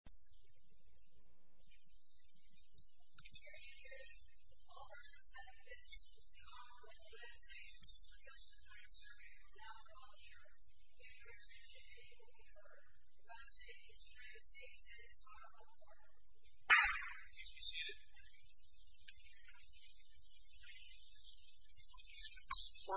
Here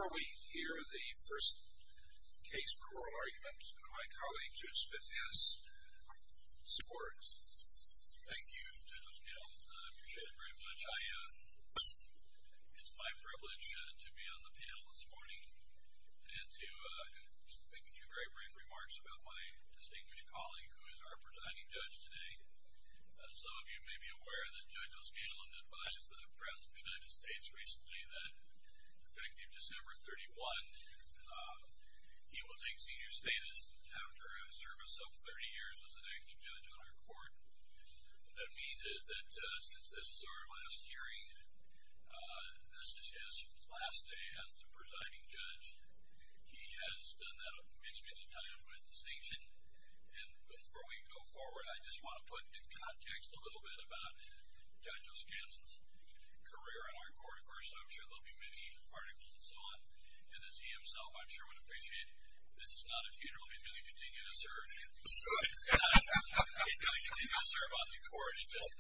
we hear the first case for oral argument, and my colleague, Judith Smith, has supported Thank you, Judge O'Scanlan. I appreciate it very much. It's my privilege to be on the panel this morning and to make a few very brief remarks about my distinguished colleague, who is our presiding judge today. Some of you may be aware that Judge O'Scanlan advised the President of the United States recently that effective December 31, he will take senior status after a service of 30 years as an active judge on our court. What that means is that since this is our last hearing, this is his last day as the presiding judge. He has done that many, many times with distinction. And before we go forward, I just want to put into context a little bit about Judge O'Scanlan's career on our court. Of course, I'm sure there will be many articles and so on. And as he himself, I'm sure, would appreciate, this is not a funeral. He's going to continue to serve. He's going to continue to serve on the court,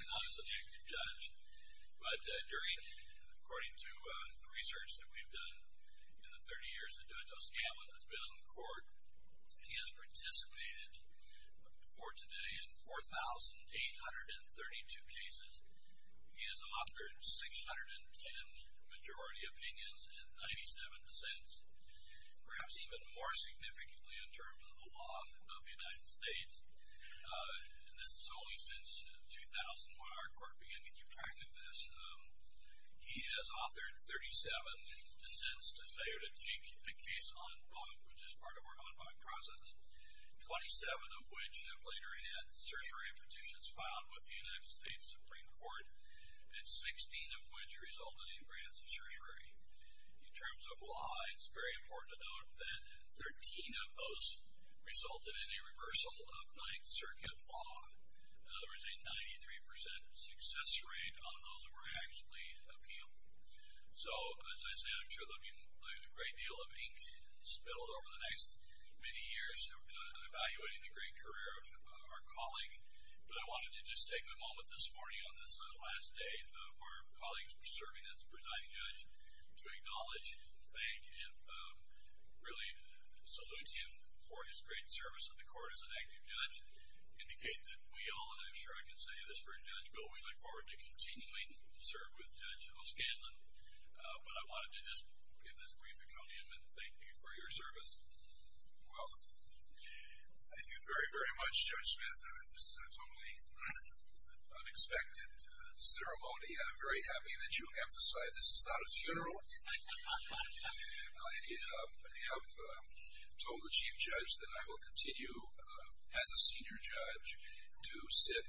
not as an active judge. But during, according to the research that we've done in the 30 years that Judge O'Scanlan has been on the court, he has participated, before today, in 4,832 cases. He has authored 610 majority opinions and 97 dissents, perhaps even more significantly in terms of the law of the United States. And this is only since 2000 when our court began to keep track of this. He has authored 37 dissents to say or to take a case en banc, which is part of our en banc process, 27 of which have later had certiorari petitions filed with the United States Supreme Court, and 16 of which resulted in grants of certiorari. In terms of law, it's very important to note that 13 of those resulted in a reversal of Ninth Circuit law. In other words, a 93% success rate on those that were actually appealable. So, as I said, I'm sure there will be a great deal of ink spilled over the next many years in evaluating the great career of our colleague. But I wanted to just take a moment this morning on this last day of our colleague serving as presiding judge to acknowledge, thank, and really salute him for his great service to the court as an active judge. Indicate that we all, and I'm sure I can say this for Judge Bill, we look forward to continuing to serve with Judge O'Scanlan. But I wanted to just give this brief accordion and thank you for your service. Well, thank you very, very much, Judge Smith. This is a totally unexpected ceremony. I'm very happy that you emphasized this is not a funeral. I have told the Chief Judge that I will continue, as a senior judge, to sit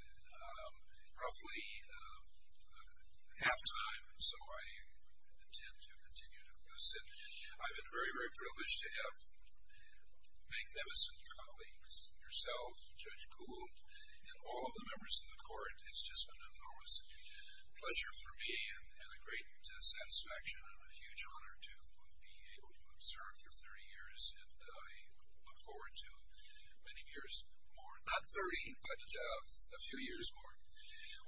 roughly half-time, so I intend to continue to sit. I've been very, very privileged to have magnificent colleagues, yourself, Judge Kuhl, and all of the members of the court. It's just been an enormous pleasure for me and a great satisfaction and a huge honor to be able to serve for 30 years, and I look forward to many years more. Not 30, but a few years more.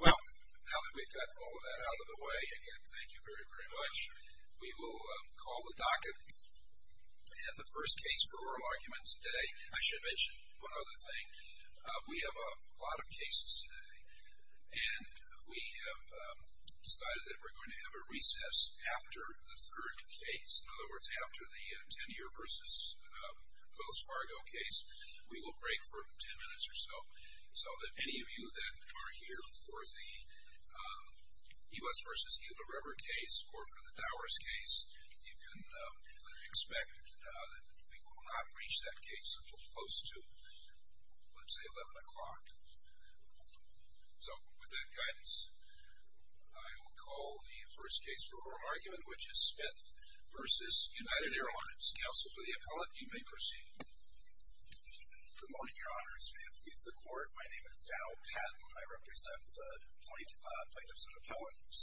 Well, now that we've got all of that out of the way, again, thank you very, very much. We will call the docket. We have the first case for oral argument today. I should mention one other thing. We have a lot of cases today, and we have decided that we're going to have a recess after the third case. In other words, after the Tenure v. Wells Fargo case. We will break for 10 minutes or so, so that any of you that are here for the E. West v. Hilda River case or for the Dowers case, you can have a recess. I expect that we will not reach that case until close to, let's say, 11 o'clock. So, with that guidance, I will call the first case for oral argument, which is Smith v. United Airlines. Counsel for the appellate, you may proceed. Good morning, Your Honors. May it please the Court, my name is Dow Patton. I represent the plaintiffs and appellants,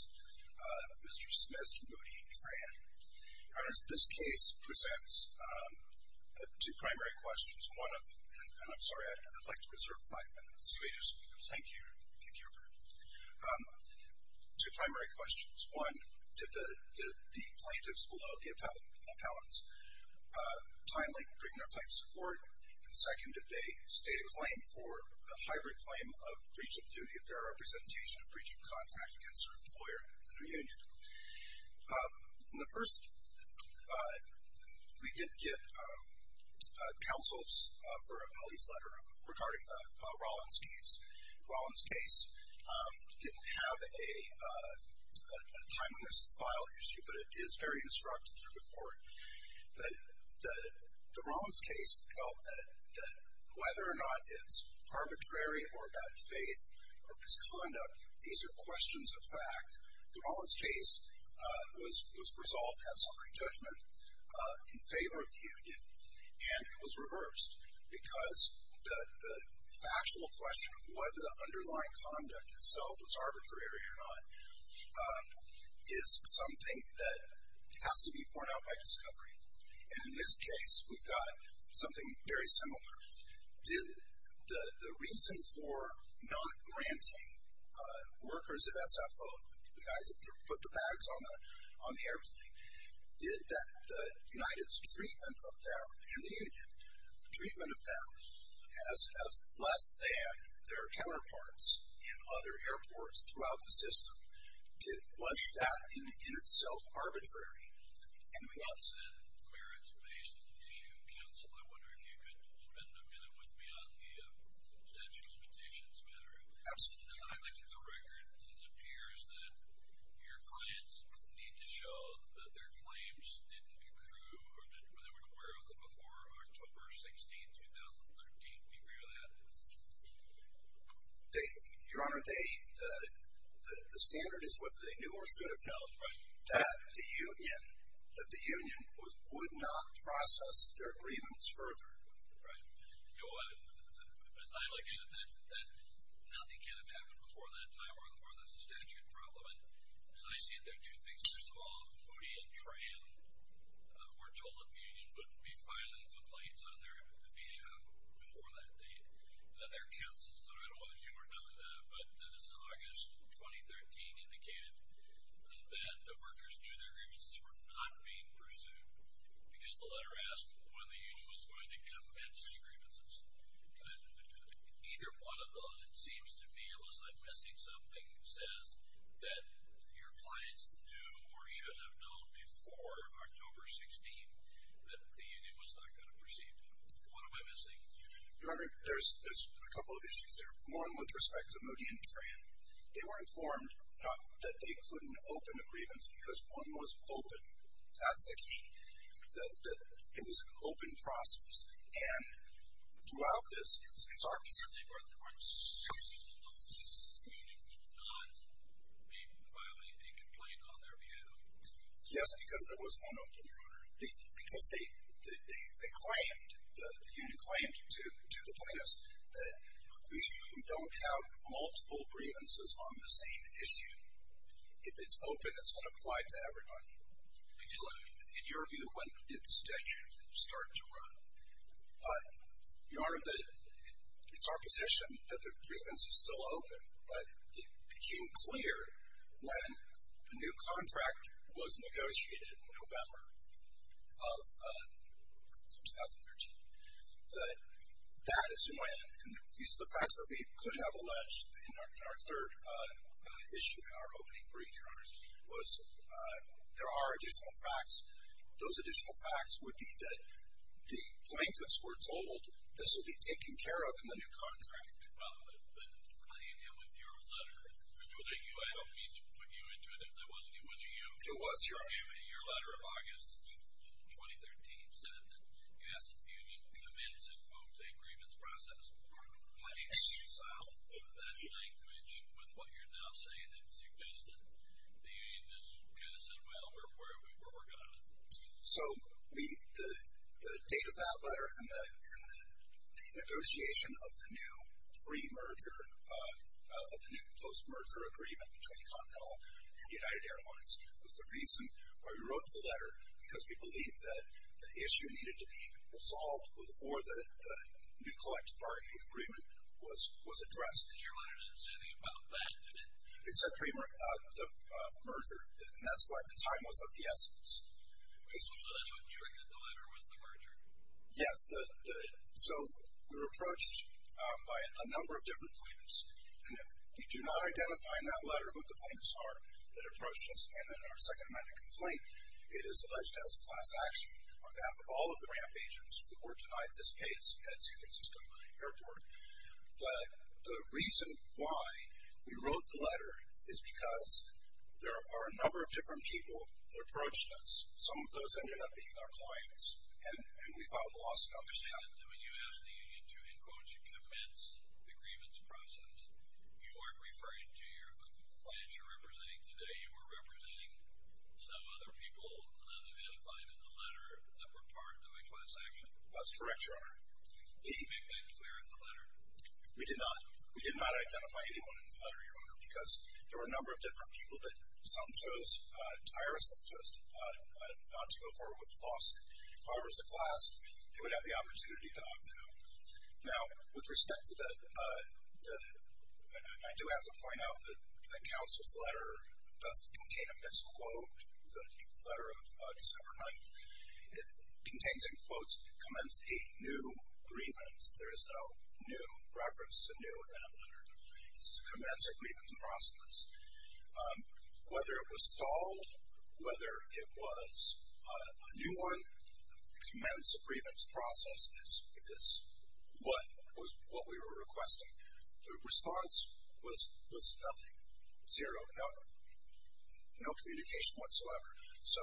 Mr. Smith, Moody, and Tran. Your Honors, this case presents two primary questions. One of, and I'm sorry, I'd like to reserve five minutes. Thank you. Two primary questions. One, did the plaintiffs below the appellants timely bring their claims to court? And second, did they state a claim for a hybrid claim of breach of duty of their representation and breach of contract against their employer and their union? The first, we did get counsels for an appellee's letter regarding the Rollins case. The Rollins case didn't have a timeless file issue, but it is very instructive to the Court. The Rollins case felt that whether or not it's arbitrary or about faith or misconduct, these are questions of fact. The Rollins case was resolved in summary judgment in favor of the union. And it was reversed because the factual question of whether the underlying conduct itself was arbitrary or not is something that has to be borne out by discovery. And in this case, we've got something very similar. Did the reason for not granting workers at SFO, the guys that put the bags on the airplane, did the United's treatment of them and the union, the treatment of them as less than their counterparts in other airports throughout the system, was that in itself arbitrary? And we also had merits-based issue counsel. I wonder if you could spend a minute with me on the potential petitions matter. Absolutely. I looked at the record and it appears that your clients need to show that their claims didn't accrue or that they were aware of them before October 16, 2013. Do you agree with that? Your Honor, the standard is what they knew or should have known, that the union would not process their agreements further. Your Honor, as I look at it, nothing can have happened before that time or there's a statute problem. And so I see it there are two things. First of all, Moody and Tran were told that the union wouldn't be filing complaints on their behalf before that date. And there are counsels that I don't know if you were telling that, but as of August 2013 indicated that the workers knew their agreements were not being pursued because the letter asked when the union was going to commence the agreements. Either one of those, it seems to me, it looks like missing something says that your clients knew or should have known before October 16 that the union was not going to proceed. What am I missing? Your Honor, there's a couple of issues there. One with respect to Moody and Tran. They were informed that they couldn't open the grievance because one was open. That's the key, that it was an open process. And throughout this, it's our concern. So they were informed that the union would not be filing a complaint on their behalf? Yes, because there was one open, Your Honor. Because they claimed, the union claimed to the plaintiffs that we don't have multiple grievances on the same issue. If it's open, it's going to apply to everybody. In your view, when did the statute start to run? Your Honor, it's our position that the grievance is still open, but it became clear when the new contract was negotiated in November of 2013 that that is when, and these are the facts that we could have alleged in our third issue in our opening brief, Your Honor, was there are additional facts. Those additional facts would be that the plaintiffs were told this will be taken care of in the new contract. Well, but how do you deal with your letter? I don't mean to put you into it if that wasn't you. It was, Your Honor. Your letter in August of 2013 said that, yes, if the union commits and moves a grievance process, how do you reconcile that language with what you're now saying that suggested the union just kind of said, well, we're where we were going? So the date of that letter and the negotiation of the new pre-merger, of the new post-merger agreement between Continental and United Airlines was the reason why we wrote the letter, because we believed that the issue needed to be resolved before the new collective bargaining agreement was addressed. Your Honor didn't say anything about that, did it? It said pre-merger, and that's why the time was of the essence. So that's what triggered the letter, was the merger? Yes. So we were approached by a number of different plaintiffs, and we do not identify in that letter who the plaintiffs are that approached us, and in our second amendment complaint, it is alleged as a class action on behalf of all of the ramp agents who were denied this case at San Francisco Airport. But the reason why we wrote the letter is because there are a number of different people that approached us. Some of those ended up being our clients, and we found lost company. You said that when you asked the union to, in quotes, commence the grievance process, you weren't referring to your clients you're representing today. You were representing some other people unidentified in the letter that were part of a class action. That's correct, Your Honor. Did you make that clear in the letter? We did not. We did not identify anyone in the letter, Your Honor, because there were a number of different people that some chose to hire, some chose not to go forward with the loss. However, as a class, they would have the opportunity to opt out. Now, with respect to that, I do have to point out that the counsel's letter does contain a misquote, the letter of December 9th. It contains in quotes, commence a new grievance. There is no new reference to new in that letter. It's a commence a grievance process. Whether it was stalled, whether it was a new one, commence a grievance process is what we were requesting. The response was nothing, zero, never. No communication whatsoever. So,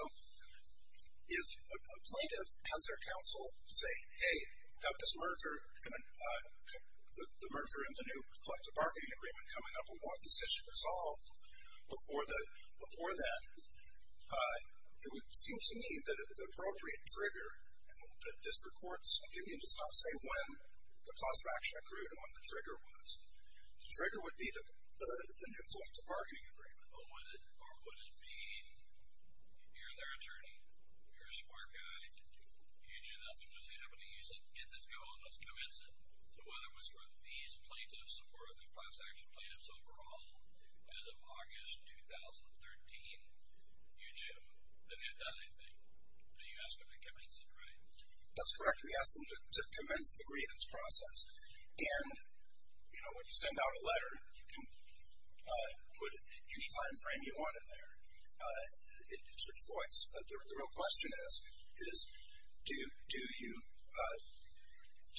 if a plaintiff has their counsel say, hey, we have this merger, the merger and the new collective bargaining agreement coming up, we want this issue resolved, before then, it would seem to me that the appropriate trigger, and the district court's opinion does not say when the cause of action accrued and what the trigger was. The trigger would be the new collective bargaining agreement. Or would it be, you're their attorney, you're a smart guy, you knew nothing was happening, you said, get this going, let's commence it. So, whether it was for these plaintiffs or the class action plaintiffs overall, as of August 2013, you knew they hadn't done anything, and you asked them to commence it, right? That's correct. We asked them to commence the grievance process. And, you know, when you send out a letter, you can put any time frame you want in there. It's your choice. But the real question is, is, do you,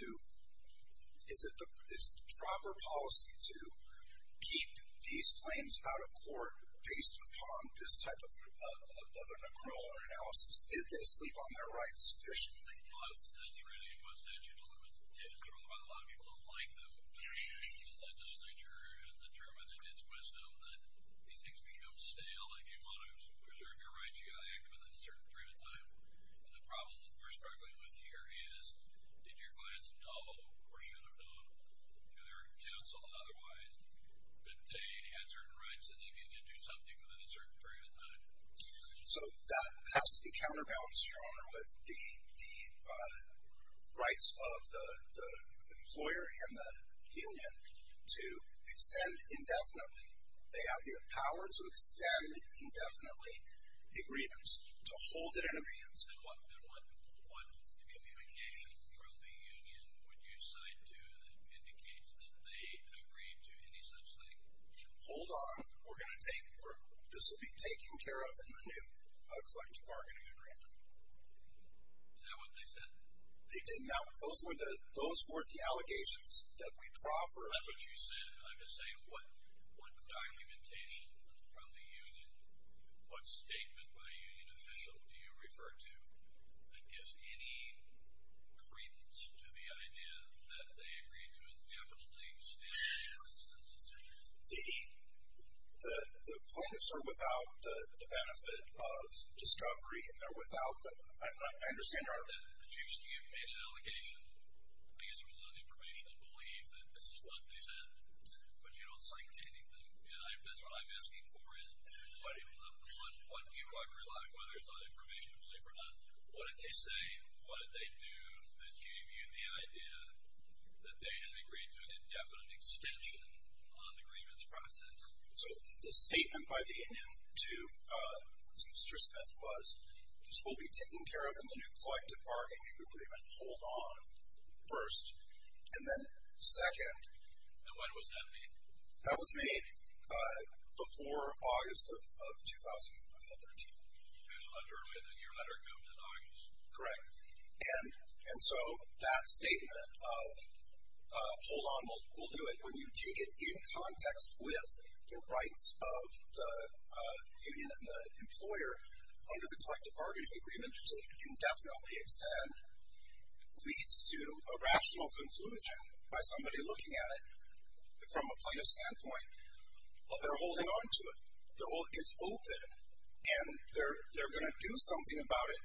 is it the proper policy to keep these claims out of court based upon this type of an accrual analysis? Did they sleep on their rights sufficiently? Well, that's really what statute of limits did, but a lot of people don't like them. The legislature has determined in its wisdom that these things become stale if you want to preserve your rights, you've got to act within a certain period of time. And the problem that we're struggling with here is, did your clients know, or should have known, through their counsel and otherwise, that they had certain rights and they needed to do something within a certain period of time? So that has to be counterbalanced, Your Honor, with the rights of the employer and the union to extend indefinitely. They have the power to extend indefinitely a grievance, to hold it in a grievance. And what communication from the union would you cite to that indicates that they agreed to any such thing? Hold on. We're going to take, this will be taken care of in the new collective bargaining agreement. Is that what they said? They did. Now, those were the, those were the allegations that we proffered. That's what you said. I'm just saying, what documentation from the union, what statement by a union official do you refer to that gives any credence to the idea that they agreed to indefinitely extend the grievance? The plaintiffs are without the benefit of discovery, and they're without the, I understand, Your Honor. So the statement by the union to Mr. Smith was, this will be taken care of in the new collective bargaining agreement. Hold on, first. And then, second. And when was that made? That was made before August of 2013. A year letter comes in August. Correct. And so, that statement of hold on will do it when you take it in context with the rights of the union and the employer, under the collective bargaining agreement, to indefinitely extend, leads to a rational conclusion by somebody looking at it from a plaintiff's standpoint. They're holding on to it. It's open. And they're going to do something about it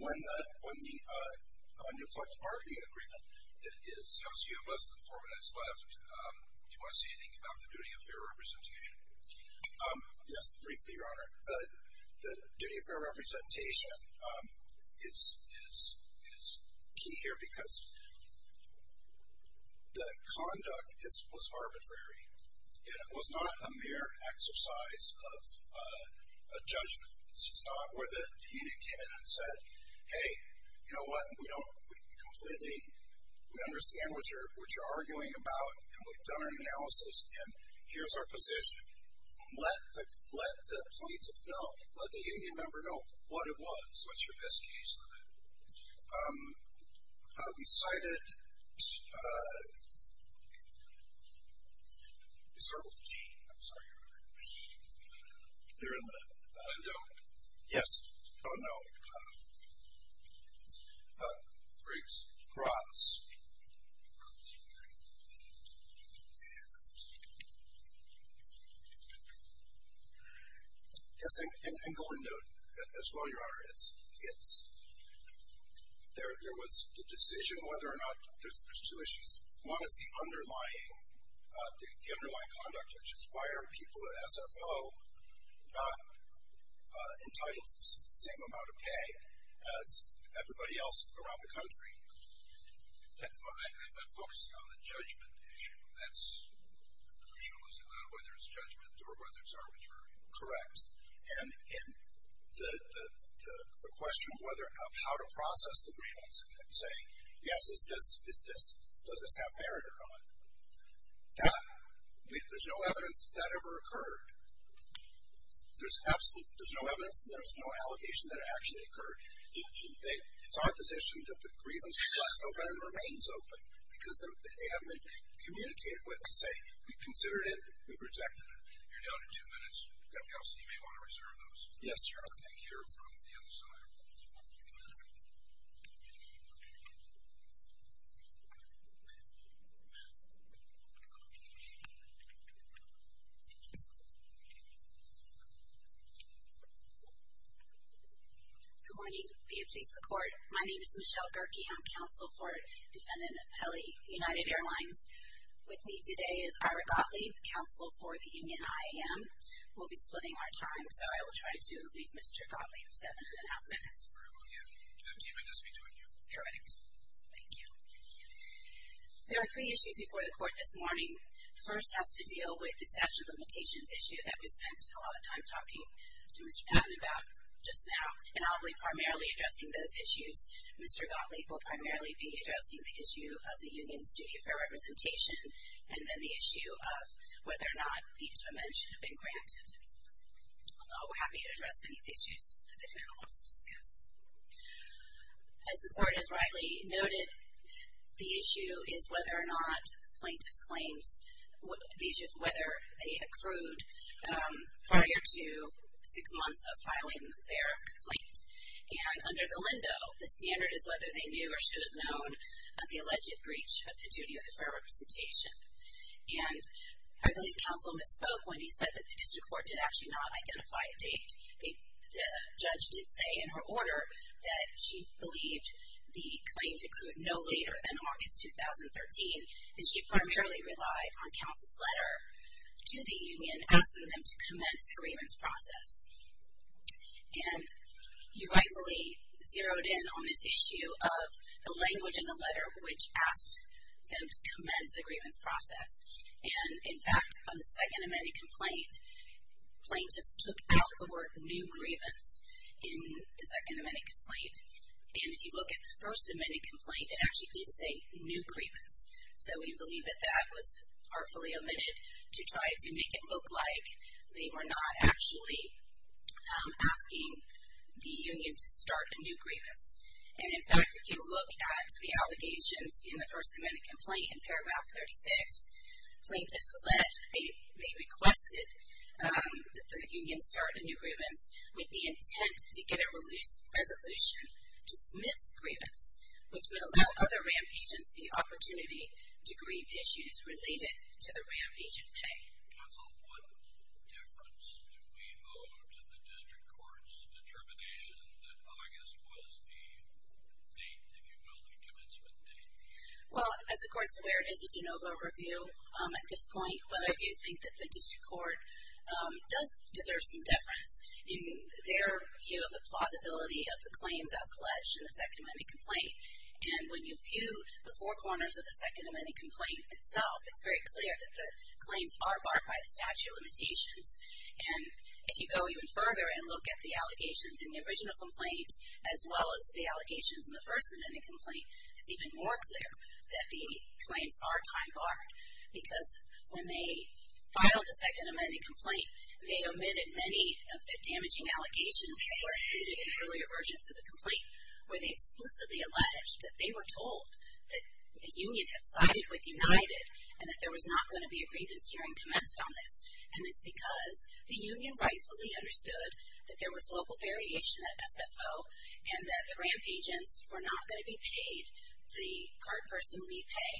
when the, when the new collective bargaining agreement is. There's a few of us, the four minutes left. Do you want to say anything about the duty of fair representation? Yes, briefly, Your Honor. The duty of fair representation is key here because the conduct was arbitrary, and it was not a mere exercise of judgment. This is not where the union came in and said, hey, you know what? We don't completely, we understand what you're arguing about, and we've done our analysis, and here's our position. Let the plaintiff know, let the union member know what it was, what's your best case limit. We cited, is there a T? I'm sorry, Your Honor. They're in the window. Yes. Oh, no. Briefs. Broughts. Yes, I'm going to, as well, Your Honor, it's, there was the decision whether or not, there's two issues. One is the underlying conduct, which is why are people at SFO not entitled to the same amount of pay as everybody else around the country? I'm focusing on the judgment issue. That's, I'm not sure whether it's judgment or whether it's arbitrary. Correct. And the question of whether, of how to process the grievance and say, yes, is this, is this, does this have merit or not? That, there's no evidence that that ever occurred. There's absolutely, there's no evidence and there's no allegation that it actually occurred. It's our position that the grievance was open and remains open because they have been communicated with to say, we've considered it, we've rejected it. You're down to two minutes. Counsel, you may want to reserve those. Yes, Your Honor. Thank you. You're on the other side. Good morning. BFJ Support. My name is Michelle Gerke. I'm counsel for Defendant Pelley, United Airlines. With me today is Ira Gottlieb, counsel for the union IAM. We'll be splitting our time, so I will try to leave Mr. Gottlieb seven and a half minutes. Very well, yeah. Fifteen minutes between you. Correct. Thank you. There are three issues before the court this morning. First has to deal with the statute of limitations issue that we spent a lot of time talking to Mr. Patton about just now. And I'll be primarily addressing those issues. Mr. Gottlieb will primarily be addressing the issue of the union's duty of fair representation and then the issue of whether or not the intervention had been granted. I'll be happy to address any issues that the defendant wants to discuss. As the court has rightly noted, the issue is whether or not plaintiff's claims, whether they accrued prior to six months of filing their complaint. And under the Lindo, the standard is whether they knew or should have known of the alleged breach of the duty of the fair representation. And I believe counsel misspoke when he said that the district court did actually not identify a date. The judge did say in her order that she believed the claim to accrue no later than August 2013, and she primarily relied on counsel's letter to the union asking them to commence the grievance process. And you rightly zeroed in on this issue of the language in the letter which asked them to commence the grievance process. And, in fact, on the second amended complaint, plaintiffs took out the word new grievance in the second amended complaint. And if you look at the first amended complaint, it actually did say new grievance. So we believe that that was artfully omitted to try to make it look like they were not actually asking the union to start a new grievance. And, in fact, if you look at the allegations in the first amended complaint in paragraph 36, plaintiffs alleged that they requested that the union start a new grievance with the intent to get a resolution to dismiss grievance, which would allow other RAMP agents the opportunity to grieve issues related to the RAMP agent pay. Counsel, what difference do we owe to the district court's determination that August was the date, if you will, the commencement date? Well, as the court's aware, it is a de novo review at this point, but I do think that the district court does deserve some deference in their view of the plausibility of the claims out pledged in the second amended complaint. And when you view the four corners of the second amended complaint itself, it's very clear that the claims are barred by the statute of limitations. And if you go even further and look at the allegations in the original complaint, as well as the allegations in the first amended complaint, it's even more clear that the claims are time barred. Because when they filed the second amended complaint, they omitted many of the damaging allegations that were included in earlier versions of the complaint where they explicitly alleged that they were told that the union had sided with United and that there was not going to be a grievance hearing commenced on this. And it's because the union rightfully understood that there was local variation at SFO and that the RAMP agents were not going to be paid the card person lead pay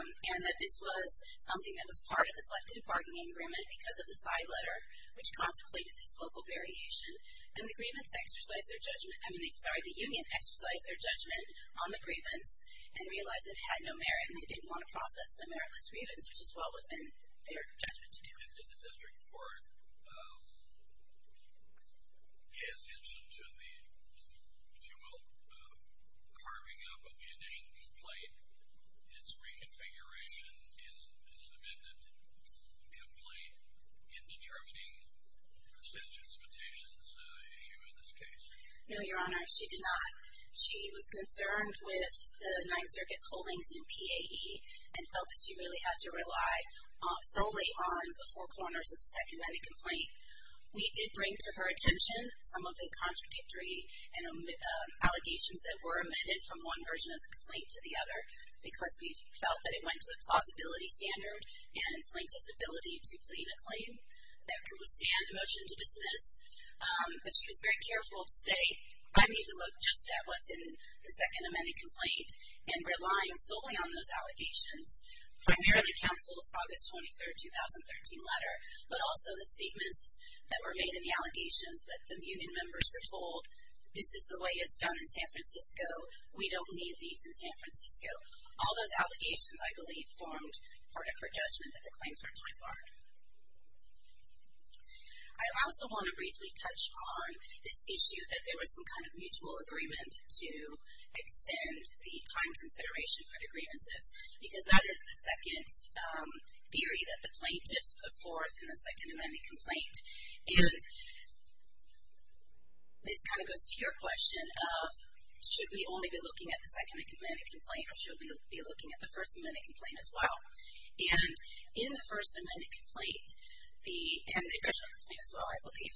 and that this was something that was part of the collective bargaining agreement because of the side letter which contemplated this local variation. And the grievance exercised their judgment, I mean, sorry, the union exercised their judgment on the grievance and realized it had no merit and they didn't want to process the meritless grievance, which is well within their judgment to do. Did the district court pay attention to the, if you will, carving up of the initial complaint, its reconfiguration in an amended complaint in determining the statute of limitations issue in this case? No, Your Honor. She did not. She was concerned with the Ninth Circuit's holdings in PAE and felt that she really had to rely solely on the four corners of the second amended complaint. We did bring to her attention some of the contradictory allegations that were amended from one version of the complaint to the other because we felt that it went to the plausibility standard and plaintiff's ability to plead a claim that could withstand a motion to dismiss. But she was very careful to say, I need to look just at what's in the second amended complaint and relying solely on those allegations, primarily counsel's August 23, 2013 letter, but also the statements that were made in the allegations that the union members were told, this is the way it's done in San Francisco, we don't need these in San Francisco. All those allegations, I believe, formed part of her judgment that the claims are time-barred. I also want to briefly touch on this issue that there was some kind of mutual agreement to extend the time consideration for the grievances because that is the second theory that the plaintiffs put forth in the second amended complaint. And this kind of goes to your question of should we only be looking at the second amended complaint or should we be looking at the first amended complaint as well? And in the first amended complaint, and the additional complaint as well, I believe,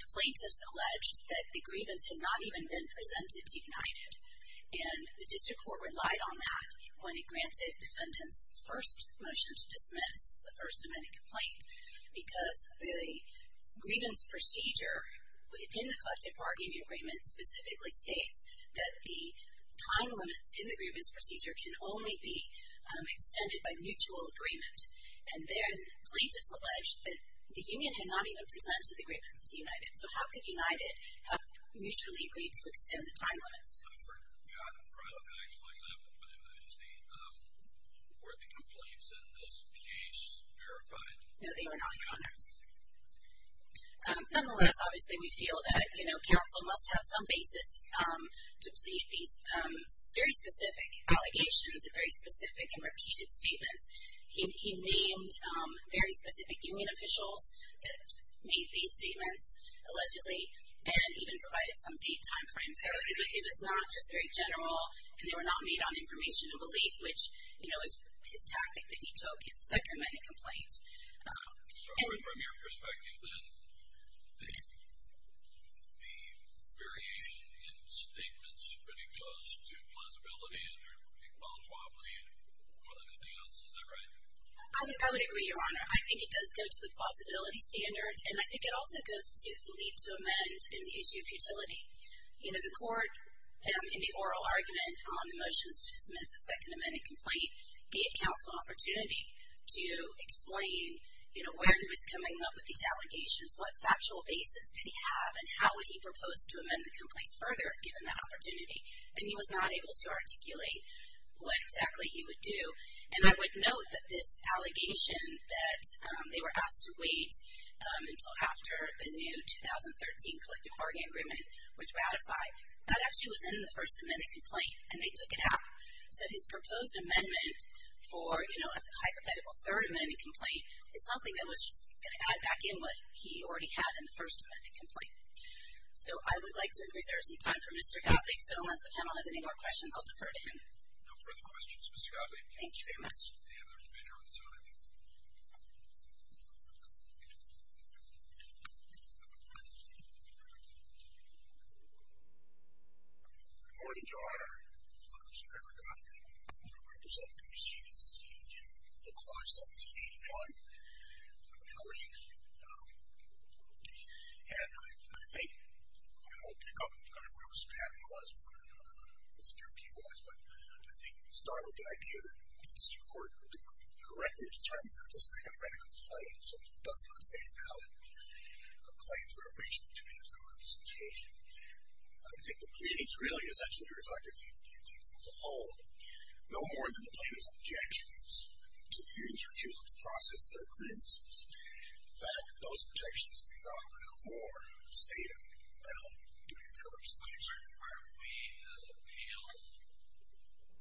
the plaintiffs alleged that the grievance had not even been presented to United and the district court relied on that when it granted defendants first motion to dismiss the first amended complaint because the grievance procedure within the collective bargaining agreement specifically states that the time limits in the grievance procedure can only be extended by mutual agreement. And then plaintiffs alleged that the union had not even presented the grievance to United. So how could United have mutually agreed to extend the time limits? I've forgotten probably the actual example, but were the complaints in this case verified? No, they were not, Conor. Nonetheless, obviously we feel that counsel must have some basis to plead these very specific allegations and very specific and repeated statements. He named very specific union officials that made these statements allegedly and even provided some date and time frames. So it was not just very general, and they were not made on information and belief, which is his tactic that he took in the second amended complaint. So from your perspective, then, the variation in statements pretty close to plausibility and or equalitarily more than anything else, is that right? I would agree, Your Honor. I think it does go to the plausibility standard, and I think it also goes to the need to amend in the issue of futility. You know, the court in the oral argument on the motions to dismiss the second amended complaint gave counsel an opportunity to explain, you know, where he was coming up with these allegations, what factual basis did he have, and how would he propose to amend the complaint further, given that opportunity, and he was not able to articulate what exactly he would do. And I would note that this allegation that they were asked to wait until after the new 2013 collective bargaining agreement was ratified, that actually was in the first amended complaint, and they took it out. So his proposed amendment for, you know, a hypothetical third amended complaint is something that was just going to add back in what he already had in the first amended complaint. So I would like to reserve some time for Mr. Gottlieb. So unless the panel has any more questions, I'll defer to him. No further questions, Ms. Gottlieb. Thank you very much. We have the remainder of the time. Good morning, Your Honor. I'm Congressman Edward Gottlieb. I'm going to represent the proceedings in the Clause 1781. I'm an ally, and I think I won't pick up kind of where Mr. Patton was, where Mr. Guilty was, but I think we can start with the idea that it's too important to correctly determine how to say a written complaint, so it does not say valid complaint for a breach of the duty of federal representation. I think the proceedings really essentially reflect a few things alone. No more than the plaintiff's objections to the interviews were chosen to process their grievances. In fact, those objections do not allow more state of the art duty of federal representation. Sir, are we as a panel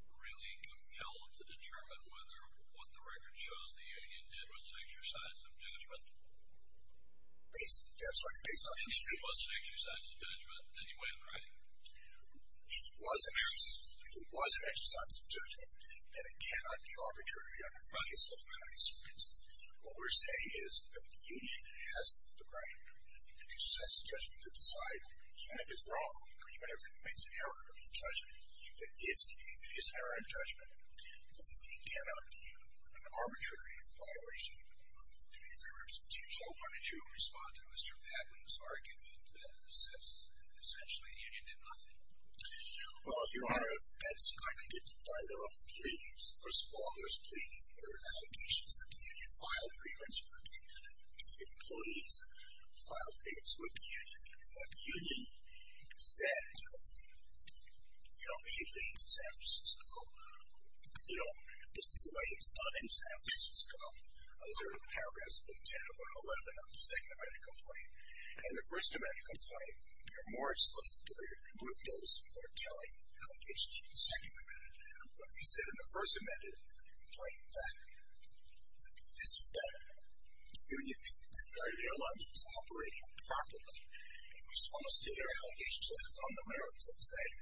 really compelled to determine whether what the record shows the union did was an exercise of judgment? That's right. If it was an exercise of judgment, then you wouldn't write it. If it was an exercise of judgment, then it cannot be arbitrary on the basis of an unanswered question. What we're saying is that the union has the right, if it's an exercise of judgment, to decide even if it's wrong or even if it makes an error of judgment, that if it is an error of judgment, then it cannot be an arbitrary violation of the duty of federal representation. So why don't you respond to Mr. Patton's argument that essentially the union did nothing? Well, Your Honor, that's kind of dictated by their own pleadings. First of all, there's pleading. There are allegations that the union filed grievance with the employees, filed grievance with the union, and that the union said, you know, he leads San Francisco. You know, this is the way it's done in San Francisco. Those are paragraphs 10 or 11 of the second amendment complaint. In the first amendment complaint, you're more explicit or you're more filled with some more telling allegations. In the second amendment, what they said in the first amendment complaint, that the union, the airlines was operating properly in response to their allegations. So that's on the merits of saying,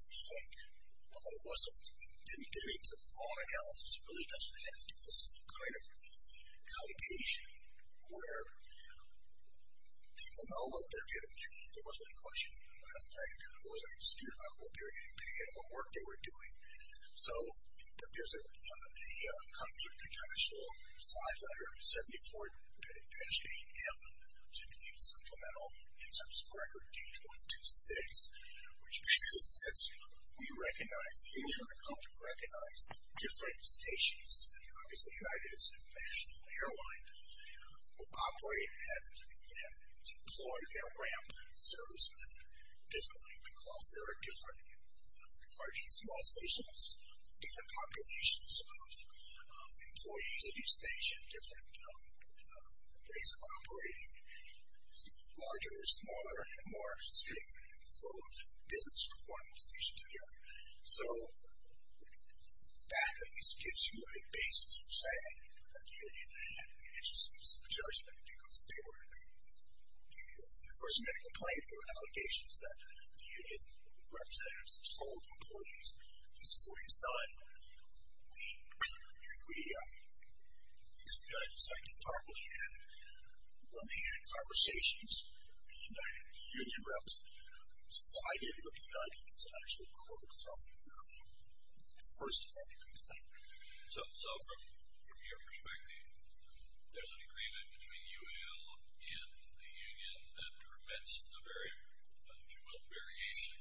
we think, well, it wasn't, it didn't get into the law analysis. It really doesn't have to. This is the kind of allegation where people know what they're getting paid. There wasn't any question. I kind of wasn't asked about what they were getting paid or what work they were doing. So, but there's a contractual side letter, 74-8M, to the Supplemental Inserts Record, page 126, which basically says, we recognize, the insurance company recognized different stations, and obviously United International Airline, will operate and deploy their ramp servicemen differently because there are different large and small stations, different populations of employees at each station, different ways of operating, larger or smaller, and more stringent in the flow of business from one station to the other. So, that at least gives you a basis for saying, that the union had an interest in this judgment because they were, in the first amendment complaint, there were allegations that the union representatives told employees, this is what he's done. We, as I can probably add, on the hand conversations, the union reps sided with the United International Court from the first amendment complaint. So, from your perspective, there's an agreement between UAL and the union that permits the very, if you will, variation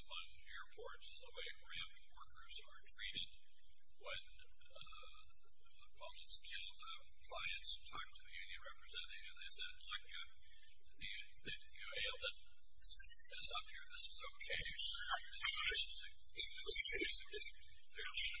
among airports and the way ramp workers are treated when opponents kill clients, talk to the union representative, and they said, look, UAL didn't put this up here. This is okay. This is reasonable. There's, in fact, referring back to an agreement, a memorandum of understanding, and from your perspective, that justifies the action, this judgment, and that arbitrary action. Whether or not the union is correct or not, that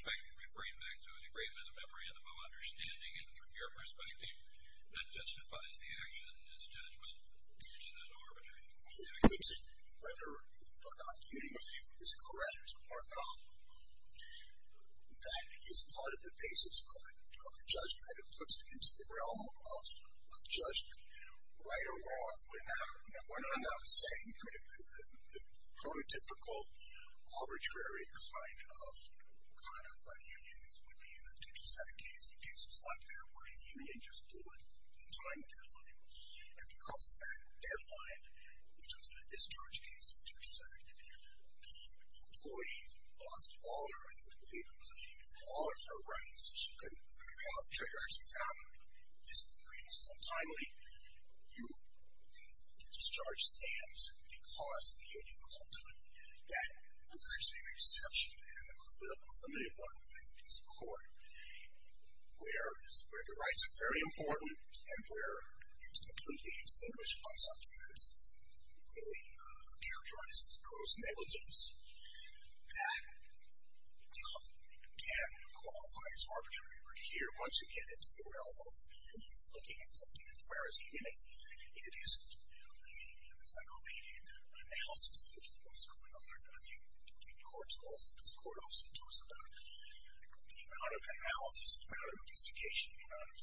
is part of the basis of a judgment. It puts it into the realm of a judgment. Right or wrong, we're not saying, the prototypical arbitrary kind of, by the unions, would be in a discharge case and cases like that where the union just blew it, the time deadline, and because of that deadline, which was in a discharge case, a discharge activity, the employee lost all her right to believe it was a female caller for her rights. She couldn't figure out triggers. She found these agreements untimely. The discharge stands because the union was untimely. That brings me to the exception of a limited one like this court where the rights are very important and where it's completely extinguished by something that really characterizes gross negligence. That, again, qualifies arbitrary over here. Once you get into the realm of the union looking at something, where is he in it? It isn't the encyclopedic analysis of what's going on. I think this court also told us about the amount of analysis, the amount of investigation, the amount of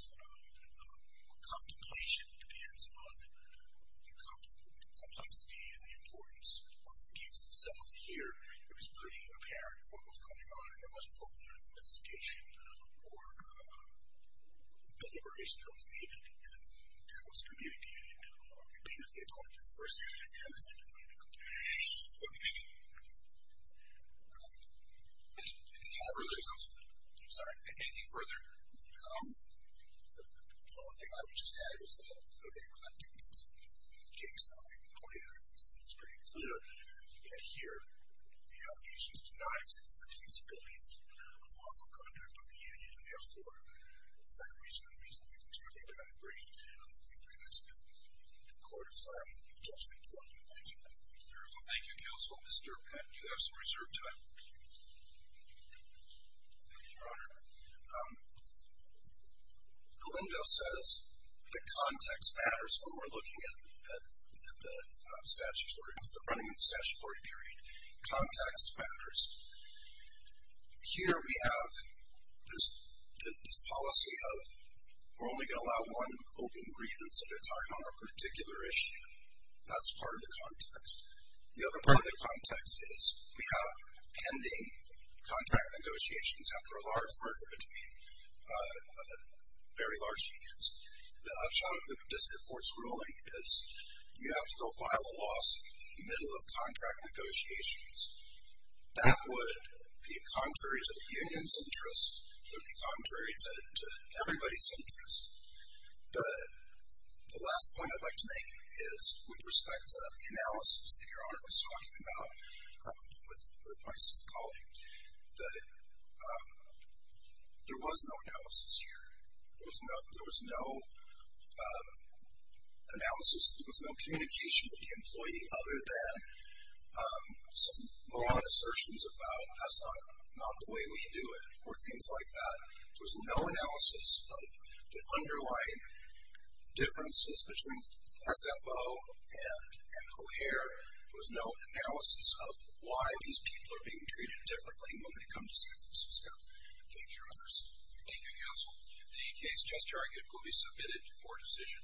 contemplation depends on the complexity and the importance of the case itself. Here, it was pretty apparent what was going on, and there wasn't a whole lot of investigation or deliberation that was needed, and that was communicated immediately according to the first union and the second union. Anything further? I'm sorry. Anything further? The only thing I would just add is that, okay, well, I think this case, the way that I think it's pretty clear, you get here, the allegations do not exceed the feasibility of a lawful conduct of the union, and, therefore, for that reason and reasonable reason, I think I'm going to bring it down. I think that's good. The court is fine. You've touched me plenty. Thank you. Thank you, counsel. Mr. Patton, you have some reserved time. Thank you, Your Honor. Glendo says the context matters when we're looking at the running of the statutory period. Context matters. Here we have this policy of we're only going to allow one open grievance at a time on a particular issue. That's part of the context. The other part of the context is we have pending contract negotiations after a large merger between very large unions. The upshot of the district court's ruling is you have to go file a lawsuit in the middle of contract negotiations. That would be contrary to the union's interest. It would be contrary to everybody's interest. The last point I'd like to make is with respect to the analysis that Your Honor was talking about with my colleague, that there was no analysis here. There was no analysis. There was no communication with the employee other than some moronic assertions about that's not the way we do it or things like that. There was no analysis of the underlying differences between SFO and O'Hare. There was no analysis of why these people are being treated differently when they come to San Francisco. Thank you, Your Honors. Thank you, counsel. The case just argued will be submitted for decision.